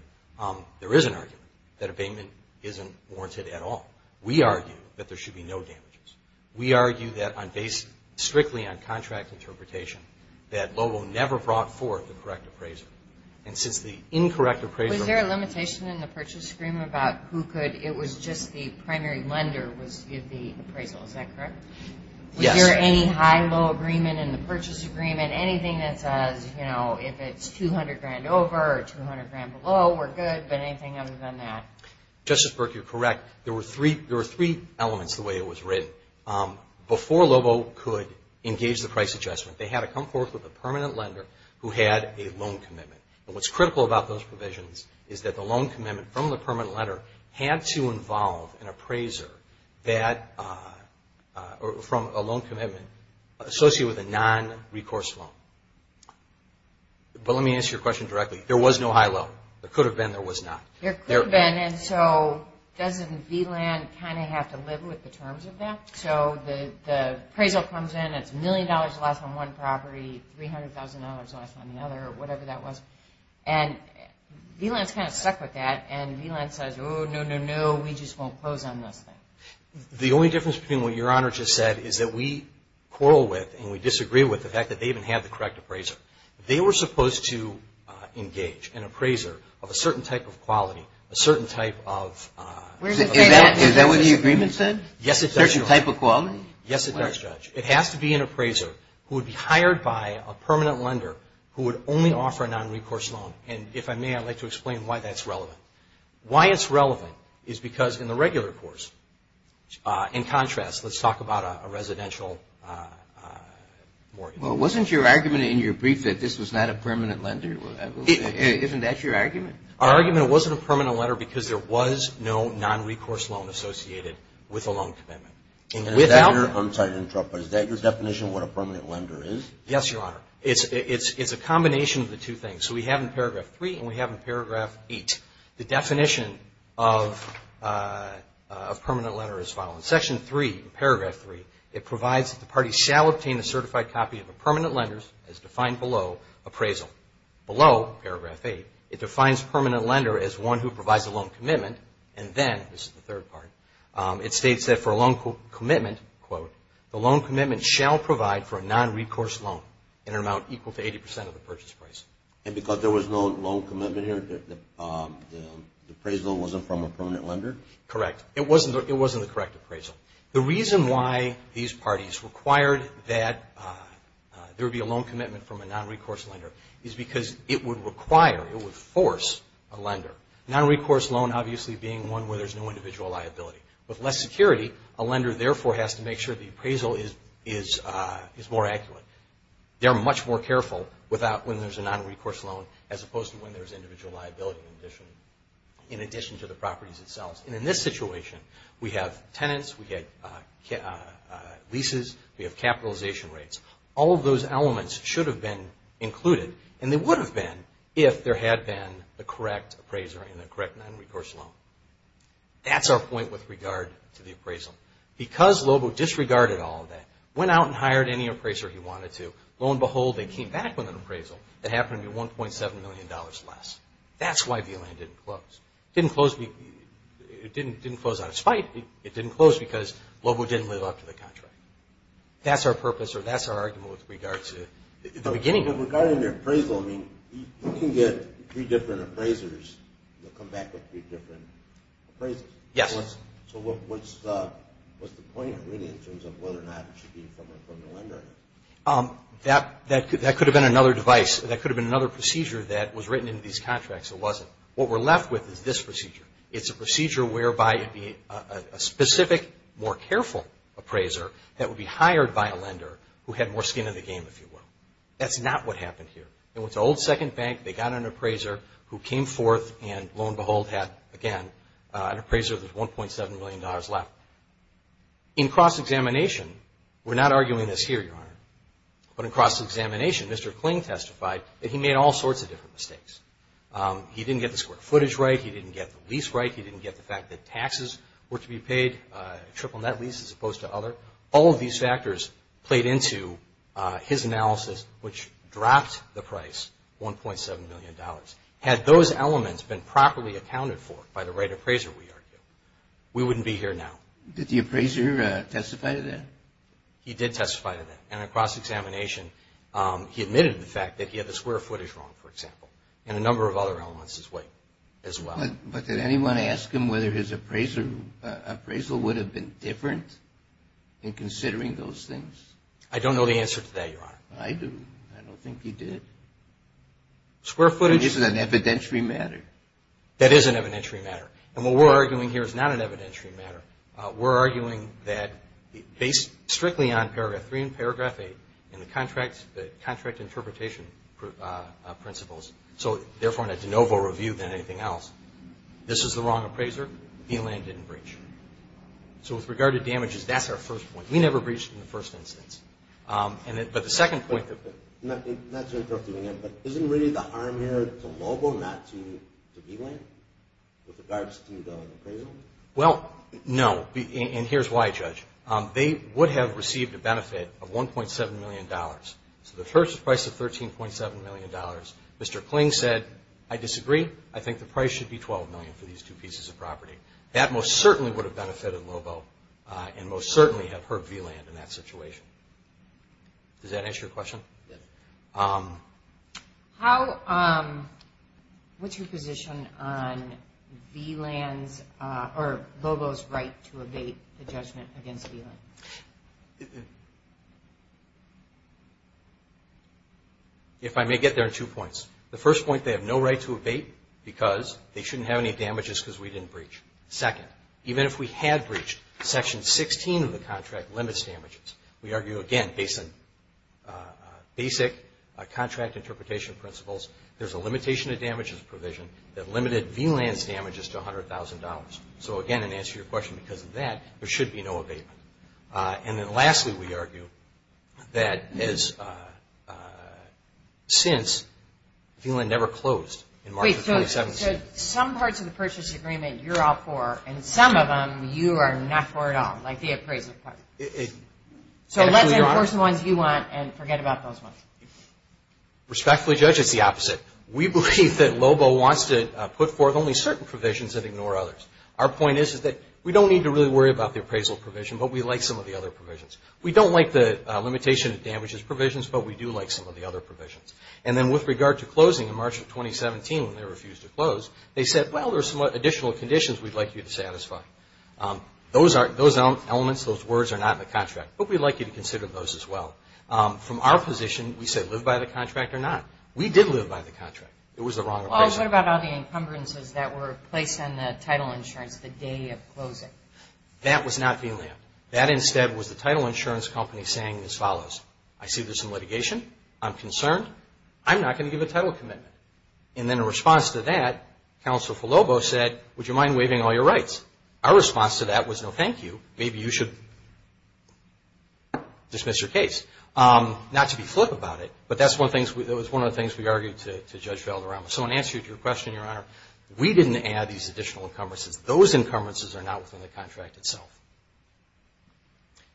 There is an argument that abatement isn't warranted at all. We argue that there should be no damages. We argue that, strictly on contract interpretation, that Lobo never brought forth the correct appraiser. And since the incorrect appraiser... Was there a limitation in the purchase agreement about who could? It was just the primary lender was to give the appraisal. Is that correct? Yes. Was there any high-low agreement in the purchase agreement? Anything that says, you know, if it's $200,000 over or $200,000 below, we're good. But anything other than that? Justice Burke, you're correct. There were three elements to the way it was written. Before Lobo could engage the price adjustment, they had to come forth with a permanent lender who had a loan commitment. And what's critical about those provisions is that the loan commitment from the permanent lender had to involve an appraiser from a loan commitment associated with a non-recourse loan. But let me ask you a question directly. There was no high-low. There could have been. There was not. There could have been. And so doesn't VLAND kind of have to live with the terms of that? So the appraisal comes in, it's a million dollars less on one property, $300,000 less on the other, or whatever that was. And VLAND is kind of stuck with that. And VLAND says, oh, no, no, no, we just won't close on this thing. The only difference between what Your Honor just said is that we quarrel with and we disagree with the fact that they didn't have the correct appraiser. They were supposed to engage an appraiser of a certain type of quality, a certain type of – Is that what the agreement said? Yes, it does, Your Honor. A certain type of quality? Yes, it does, Judge. It has to be an appraiser who would be hired by a permanent lender who would only offer a non-recourse loan. And if I may, I'd like to explain why that's relevant. Why it's relevant is because in the regular course, in contrast, let's talk about a residential mortgage. Well, wasn't your argument in your brief that this was not a permanent lender? Isn't that your argument? Our argument, it wasn't a permanent lender because there was no non-recourse loan associated with a loan commitment. I'm sorry to interrupt, but is that your definition of what a permanent lender is? Yes, Your Honor. It's a combination of the two things. So we have in Paragraph 3 and we have in Paragraph 8. The definition of permanent lender is as follows. In Section 3, Paragraph 3, it provides that the party shall obtain a certified copy of a permanent lender as defined below appraisal. Below Paragraph 8, it defines permanent lender as one who provides a loan commitment and then, this is the third part, it states that for a loan commitment, quote, the loan commitment shall provide for a non-recourse loan in an amount equal to 80% of the purchase price. And because there was no loan commitment here, the appraisal wasn't from a permanent lender? Correct. It wasn't the correct appraisal. The reason why these parties required that there be a loan commitment from a non-recourse lender is because it would require, it would force a lender. Non-recourse loan obviously being one where there's no individual liability. With less security, a lender therefore has to make sure the appraisal is more accurate. They're much more careful when there's a non-recourse loan as opposed to when there's individual liability in addition to the properties themselves. And in this situation, we have tenants, we have leases, we have capitalization rates. All of those elements should have been included and they would have been if there had been the correct appraiser and the correct non-recourse loan. That's our point with regard to the appraisal. Because Lobo disregarded all of that, went out and hired any appraiser he wanted to, lo and behold, they came back with an appraisal that happened to be $1.7 million less. That's why the land didn't close. It didn't close out of spite. It didn't close because Lobo didn't live up to the contract. That's our purpose or that's our argument with regard to the beginning. Regarding the appraisal, I mean, you can get three different appraisers and they'll come back with three different appraisers. Yes. So what's the point really in terms of whether or not it should be from a lender? That could have been another device. That could have been another procedure that was written into these contracts. It wasn't. What we're left with is this procedure. It's a procedure whereby it'd be a specific, more careful appraiser that would be hired by a lender who had more skin in the game, if you will. That's not what happened here. It was an old second bank. They got an appraiser who came forth and, lo and behold, had, again, an appraiser with $1.7 million left. In cross-examination, we're not arguing this here, Your Honor, but in cross-examination, Mr. Kling testified that he made all sorts of different mistakes. He didn't get the square footage right. He didn't get the lease right. He didn't get the fact that taxes were to be paid, triple net lease as opposed to other. All of these factors played into his analysis, which dropped the price $1.7 million. Had those elements been properly accounted for by the right appraiser, we argue, we wouldn't be here now. Did the appraiser testify to that? He did testify to that. In a cross-examination, he admitted the fact that he had the square footage wrong, for example, and a number of other elements as well. But did anyone ask him whether his appraisal would have been different? In considering those things? I don't know the answer to that, Your Honor. I do. I don't think he did. Square footage. This is an evidentiary matter. That is an evidentiary matter. And what we're arguing here is not an evidentiary matter. We're arguing that, based strictly on Paragraph 3 and Paragraph 8 and the contract interpretation principles, so therefore in a de novo review than anything else, this is the wrong appraiser. He landed in breach. So with regard to damages, that's our first point. We never breached in the first instance. But the second point. Not to interrupt you again, but isn't really the harm here to Lobo not to B-Land with regards to the appraisal? Well, no. And here's why, Judge. They would have received a benefit of $1.7 million. So the purchase price of $13.7 million. Mr. Kling said, I disagree. I think the price should be $12 million for these two pieces of property. That most certainly would have benefited Lobo and most certainly have hurt B-Land in that situation. Does that answer your question? Yes. What's your position on B-Land's or Lobo's right to evade the judgment against B-Land? If I may get there in two points. The first point, they have no right to evade because they shouldn't have any damages because we didn't breach. Second, even if we had breached, Section 16 of the contract limits damages. We argue, again, based on basic contract interpretation principles, there's a limitation of damages provision that limited B-Land's damages to $100,000. So, again, in answer to your question, because of that, there should be no evasion. And then lastly, we argue that since B-Land never closed in March of 2017. So, some parts of the purchase agreement you're all for and some of them you are not for at all, like the appraisal part. So, let's enforce the ones you want and forget about those ones. Respectfully judge, it's the opposite. We believe that Lobo wants to put forth only certain provisions and ignore others. Our point is that we don't need to really worry about the appraisal provision, but we like some of the other provisions. We don't like the limitation of damages provisions, but we do like some of the other provisions. And then with regard to closing in March of 2017 when they refused to close, they said, well, there's some additional conditions we'd like you to satisfy. Those elements, those words are not in the contract, but we'd like you to consider those as well. From our position, we said live by the contract or not. We did live by the contract. It was the wrong appraisal. Well, what about all the encumbrances that were placed on the title insurance the day of closing? That was not B-Land. That instead was the title insurance company saying as follows. I see there's some litigation. I'm concerned. I'm not going to give a title commitment. And then in response to that, Counselor Falobo said, would you mind waiving all your rights? Our response to that was no thank you. Maybe you should dismiss your case. Not to be flip about it, but that's one of the things we argued to Judge Valderrama. So in answer to your question, Your Honor, we didn't add these additional encumbrances. Those encumbrances are not within the contract itself.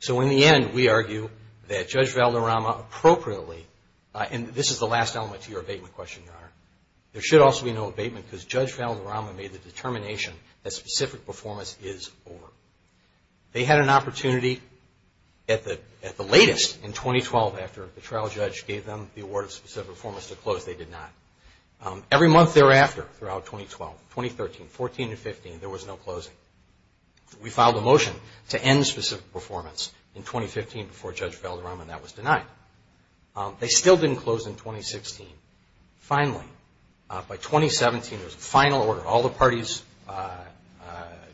So in the end, we argue that Judge Valderrama appropriately, and this is the last element to your abatement question, Your Honor. There should also be no abatement because Judge Valderrama made the determination that specific performance is over. They had an opportunity at the latest in 2012 after the trial judge gave them the award of specific performance to close. They did not. Every month thereafter throughout 2012, 2013, 2014 and 2015, there was no closing. We filed a motion to end specific performance in 2015 before Judge Valderrama and that was denied. They still didn't close in 2016. Finally, by 2017, there was a final order. All the parties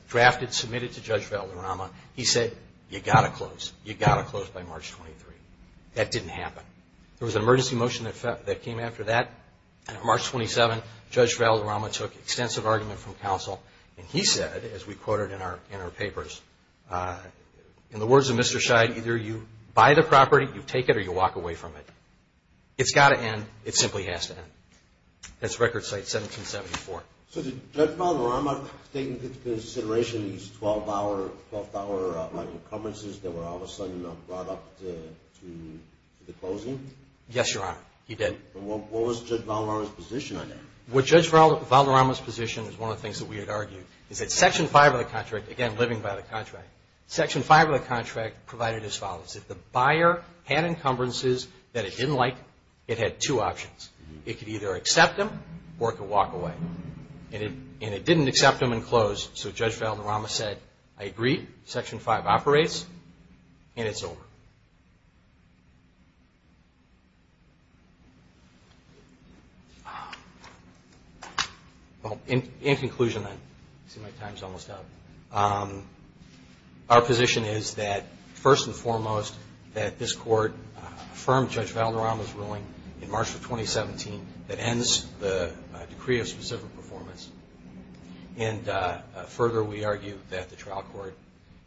drafted, submitted to Judge Valderrama. He said, you got to close. You got to close by March 23. That didn't happen. There was an emergency motion that came after that. March 27, Judge Valderrama took extensive argument from counsel and he said, as we quoted in our papers, in the words of Mr. Scheid, either you buy the property, you take it, or you walk away from it. It's got to end. It simply has to end. That's Record Cite 1774. So did Judge Valderrama take into consideration these 12-hour, 12th-hour incumbences that were all of a sudden brought up to the closing? Yes, Your Honor. He did. What was Judge Valderrama's position on that? Well, Judge Valderrama's position is one of the things that we had argued, is that Section 5 of the contract, again, living by the contract, Section 5 of the contract provided as follows. If the buyer had incumbences that it didn't like, it had two options. It could either accept them or it could walk away. And it didn't accept them and close, so Judge Valderrama said, I agree. Section 5 operates, and it's over. Well, in conclusion, I see my time is almost up. Our position is that, first and foremost, that this Court affirmed Judge Valderrama's ruling in March of 2017 that ends the decree of specific performance. And further, we argue that the trial court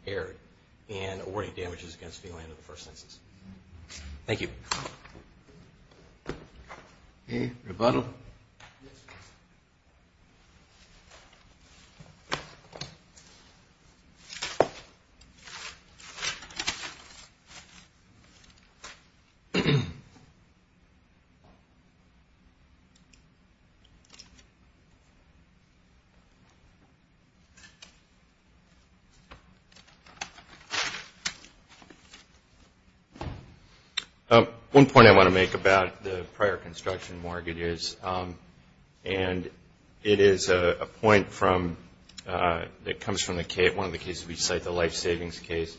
erred in awarding damages against felon in the first instance. Thank you. Rebuttal? Yes. One point I want to make about the prior construction mortgages, and it is a point that comes from one of the cases we cite, the life savings case.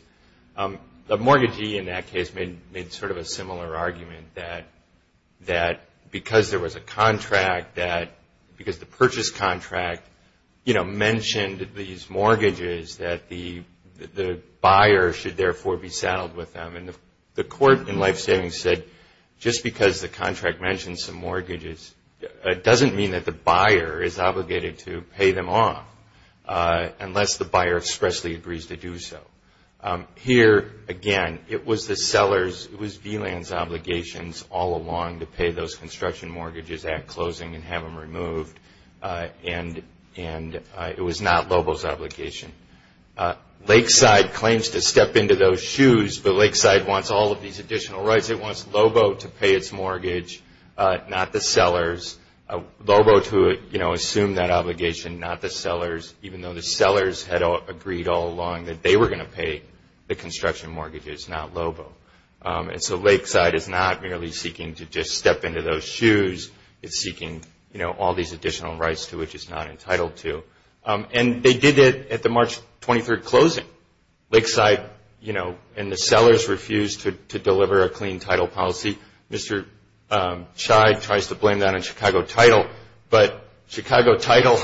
The mortgagee in that case made sort of a similar argument that because there was a contract that, because the purchase contract, you know, mentioned these mortgages that the buyer should therefore be saddled with them. And the court in life savings said, just because the contract mentions some mortgages, it doesn't mean that the buyer is obligated to pay them off unless the buyer expressly agrees to do so. Here, again, it was the seller's, it was VLAN's obligations all along to pay those construction mortgages at closing and have them removed. And it was not Lobo's obligation. Lakeside claims to step into those shoes, but Lakeside wants all of these additional rights. It wants Lobo to pay its mortgage, not the seller's. Lobo to, you know, assume that obligation, not the seller's, even though the seller's had agreed all along that they were going to pay the construction mortgages, not Lobo. And so Lakeside is not merely seeking to just step into those shoes. It's seeking, you know, all these additional rights to which it's not entitled to. And they did it at the March 23rd closing. Lakeside, you know, and the sellers refused to deliver a clean title policy. Mr. Chai tries to blame that on Chicago Title. But Chicago Title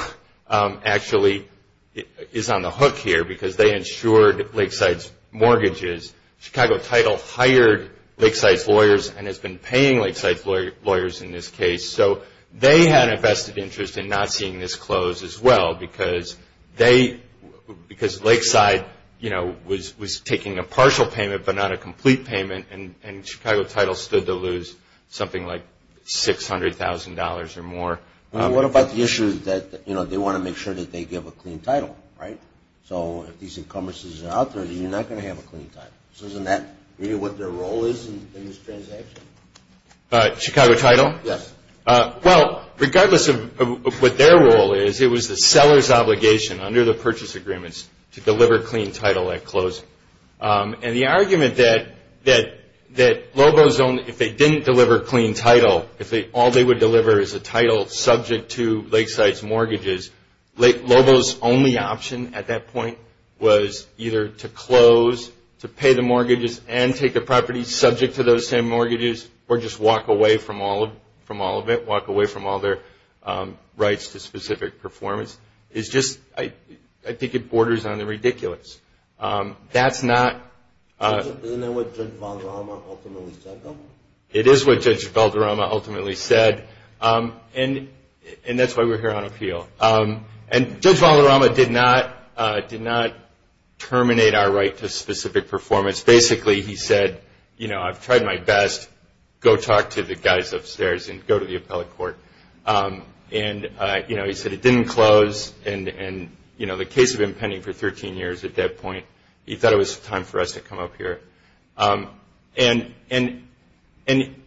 actually is on the hook here because they insured Lakeside's mortgages. So they had a vested interest in not seeing this close as well because they, because Lakeside, you know, was taking a partial payment but not a complete payment. And Chicago Title stood to lose something like $600,000 or more. Well, what about the issue that, you know, they want to make sure that they give a clean title, right? So if these encumbrances are out there, you're not going to have a clean title. So isn't that really what their role is in this transaction? Chicago Title? Yes. Well, regardless of what their role is, it was the seller's obligation under the purchase agreements to deliver a clean title at close. And the argument that Lobo's only, if they didn't deliver a clean title, if all they would deliver is a title subject to Lakeside's mortgages, Lobo's only option at that point was either to close, to pay the mortgages and take the property subject to those same mortgages or just walk away from all of it, walk away from all their rights to specific performance. It's just, I think it borders on the ridiculous. That's not. Isn't that what Judge Valderrama ultimately said, though? It is what Judge Valderrama ultimately said. And that's why we're here on appeal. And Judge Valderrama did not terminate our right to specific performance. Basically, he said, you know, I've tried my best. Go talk to the guys upstairs and go to the appellate court. And, you know, he said it didn't close. And, you know, the case had been pending for 13 years at that point. He thought it was time for us to come up here. And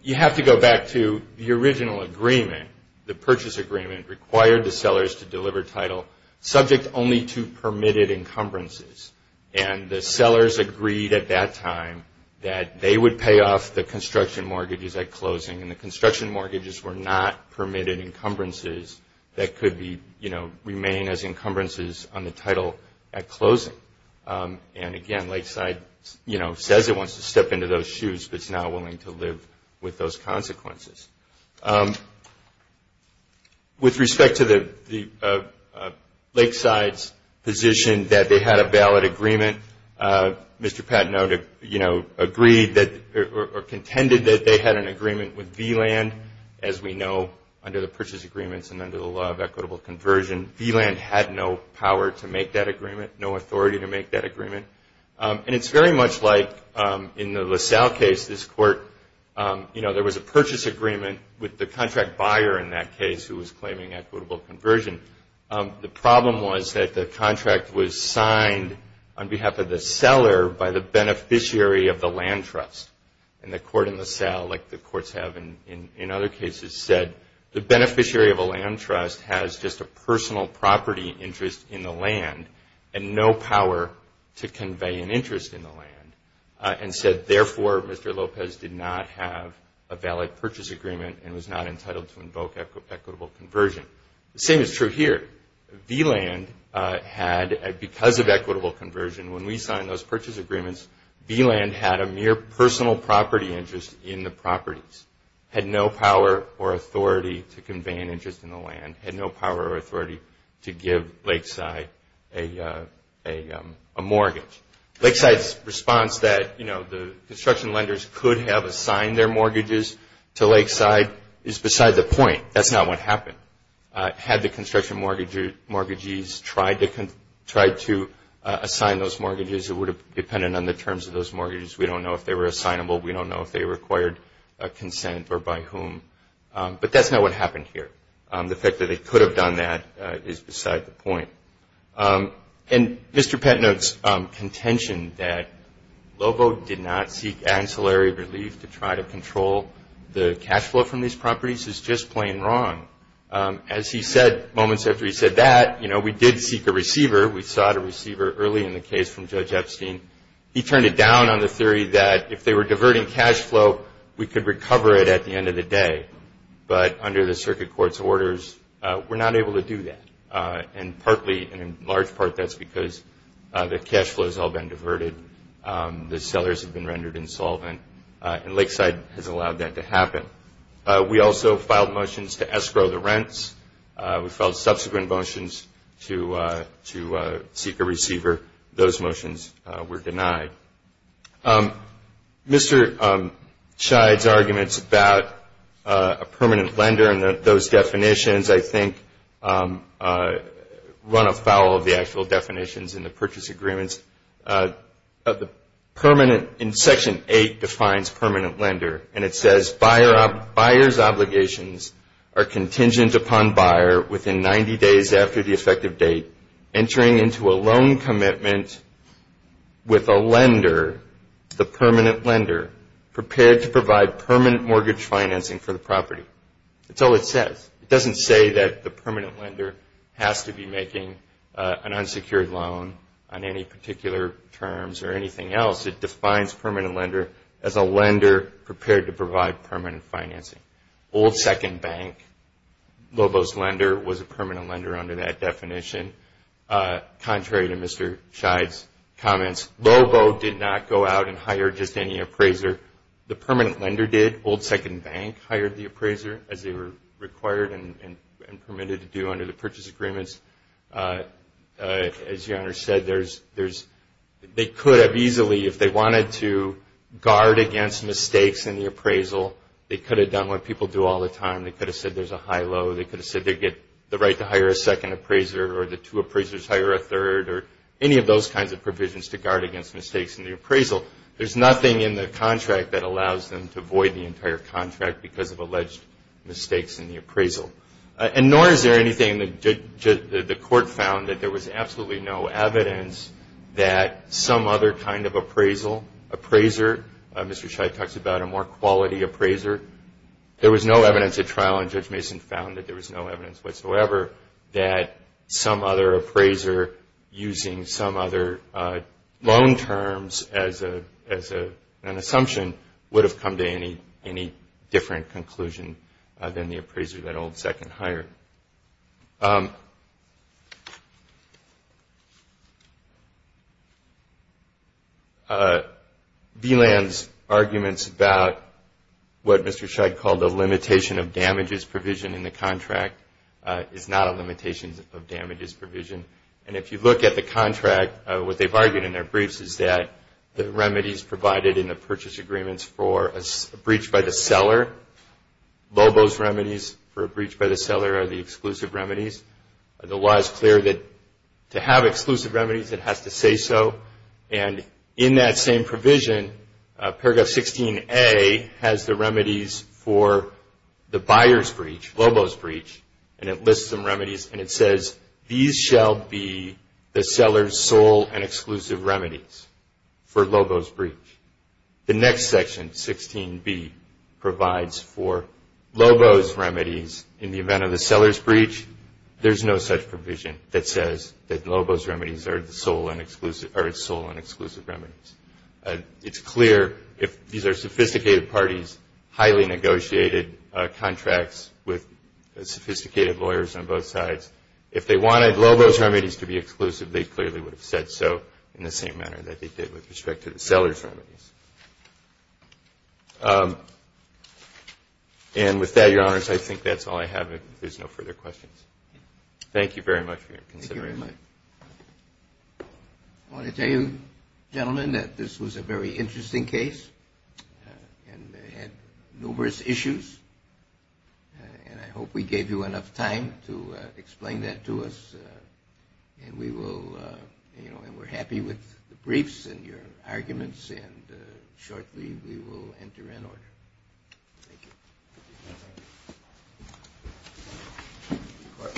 you have to go back to the original agreement, the purchase agreement, required the sellers to deliver title subject only to permitted encumbrances. And the sellers agreed at that time that they would pay off the construction mortgages at closing. And the construction mortgages were not permitted encumbrances that could be, you know, remain as encumbrances on the title at closing. And, again, Lakeside, you know, says it wants to step into those shoes, but it's not willing to live with those consequences. With respect to the Lakeside's position that they had a valid agreement, Mr. Patenote, you know, agreed that or contended that they had an agreement with V-Land. As we know, under the purchase agreements and under the law of equitable conversion, V-Land had no power to make that agreement, no authority to make that agreement. And it's very much like in the LaSalle case, this court, you know, there was a purchase agreement with the contract buyer in that case who was claiming equitable conversion. The problem was that the contract was signed on behalf of the seller by the beneficiary of the land trust. And the court in LaSalle, like the courts have in other cases, said, the beneficiary of a land trust has just a personal property interest in the land and no power to convey an interest in the land, and said, therefore, Mr. Lopez did not have a valid purchase agreement and was not entitled to invoke equitable conversion. The same is true here. V-Land had, because of equitable conversion, when we signed those purchase agreements, V-Land had a mere personal property interest in the properties, had no power or authority to convey an interest in the land, had no power or authority to give Lakeside a mortgage. Lakeside's response that, you know, the construction lenders could have assigned their mortgages to Lakeside is beside the point. That's not what happened. Had the construction mortgagees tried to assign those mortgages, it would have depended on the terms of those mortgages. We don't know if they were assignable. We don't know if they required consent or by whom. But that's not what happened here. The fact that they could have done that is beside the point. And Mr. Petnick's contention that Lobo did not seek ancillary relief to try to control the cash flow from these properties is just plain wrong. As he said moments after he said that, you know, we did seek a receiver. We sought a receiver early in the case from Judge Epstein. He turned it down on the theory that if they were diverting cash flow, we could recover it at the end of the day. But under the circuit court's orders, we're not able to do that. And partly, and in large part, that's because the cash flow has all been diverted. The sellers have been rendered insolvent. And Lakeside has allowed that to happen. We also filed motions to escrow the rents. We filed subsequent motions to seek a receiver. Those motions were denied. Mr. Scheid's arguments about a permanent lender and those definitions, I think, run afoul of the actual definitions in the purchase agreements. In Section 8 defines permanent lender. And it says, buyer's obligations are contingent upon buyer within 90 days after the effective date, entering into a loan commitment with a lender, the permanent lender, prepared to provide permanent mortgage financing for the property. That's all it says. It doesn't say that the permanent lender has to be making an unsecured loan on any particular terms or anything else. It defines permanent lender as a lender prepared to provide permanent financing. Old Second Bank, Lobo's lender, was a permanent lender under that definition. Contrary to Mr. Scheid's comments, Lobo did not go out and hire just any appraiser. The permanent lender did. Old Second Bank hired the appraiser as they were required and permitted to do under the purchase agreements. As your Honor said, they could have easily, if they wanted to guard against mistakes in the appraisal, they could have done what people do all the time. They could have said there's a high-low. They could have said they get the right to hire a second appraiser or the two appraisers hire a third or any of those kinds of provisions to guard against mistakes in the appraisal. There's nothing in the contract that allows them to void the entire contract because of alleged mistakes in the appraisal. And nor is there anything that the court found that there was absolutely no evidence that some other kind of appraisal, appraiser, Mr. Scheid talks about a more quality appraiser. There was no evidence at trial, and Judge Mason found that there was no evidence whatsoever that some other appraiser using some other loan terms as an assumption would have come to any different conclusion than the appraiser that Old Second hired. All right. VLAN's arguments about what Mr. Scheid called a limitation of damages provision in the contract is not a limitation of damages provision. And if you look at the contract, what they've argued in their briefs is that the remedies provided in the purchase agreements for a breach by the seller, LOBO's remedies for a breach by the seller are the exclusive remedies. The law is clear that to have exclusive remedies it has to say so, and in that same provision, paragraph 16A has the remedies for the buyer's breach, LOBO's breach, and it lists some remedies and it says, these shall be the seller's sole and exclusive remedies for LOBO's breach. The next section, 16B, provides for LOBO's remedies in the event of the seller's breach. There's no such provision that says that LOBO's remedies are its sole and exclusive remedies. It's clear if these are sophisticated parties, highly negotiated contracts with sophisticated lawyers on both sides, if they wanted LOBO's remedies to be exclusive, they clearly would have said so in the same manner that they did with respect to the seller's remedies. And with that, Your Honors, I think that's all I have. If there's no further questions. Thank you very much for your consideration. Thank you very much. I want to tell you, gentlemen, that this was a very interesting case, and they had numerous issues, and I hope we gave you enough time to explain that to us, and we're happy with the briefs and your arguments, and shortly we will enter in order. Thank you.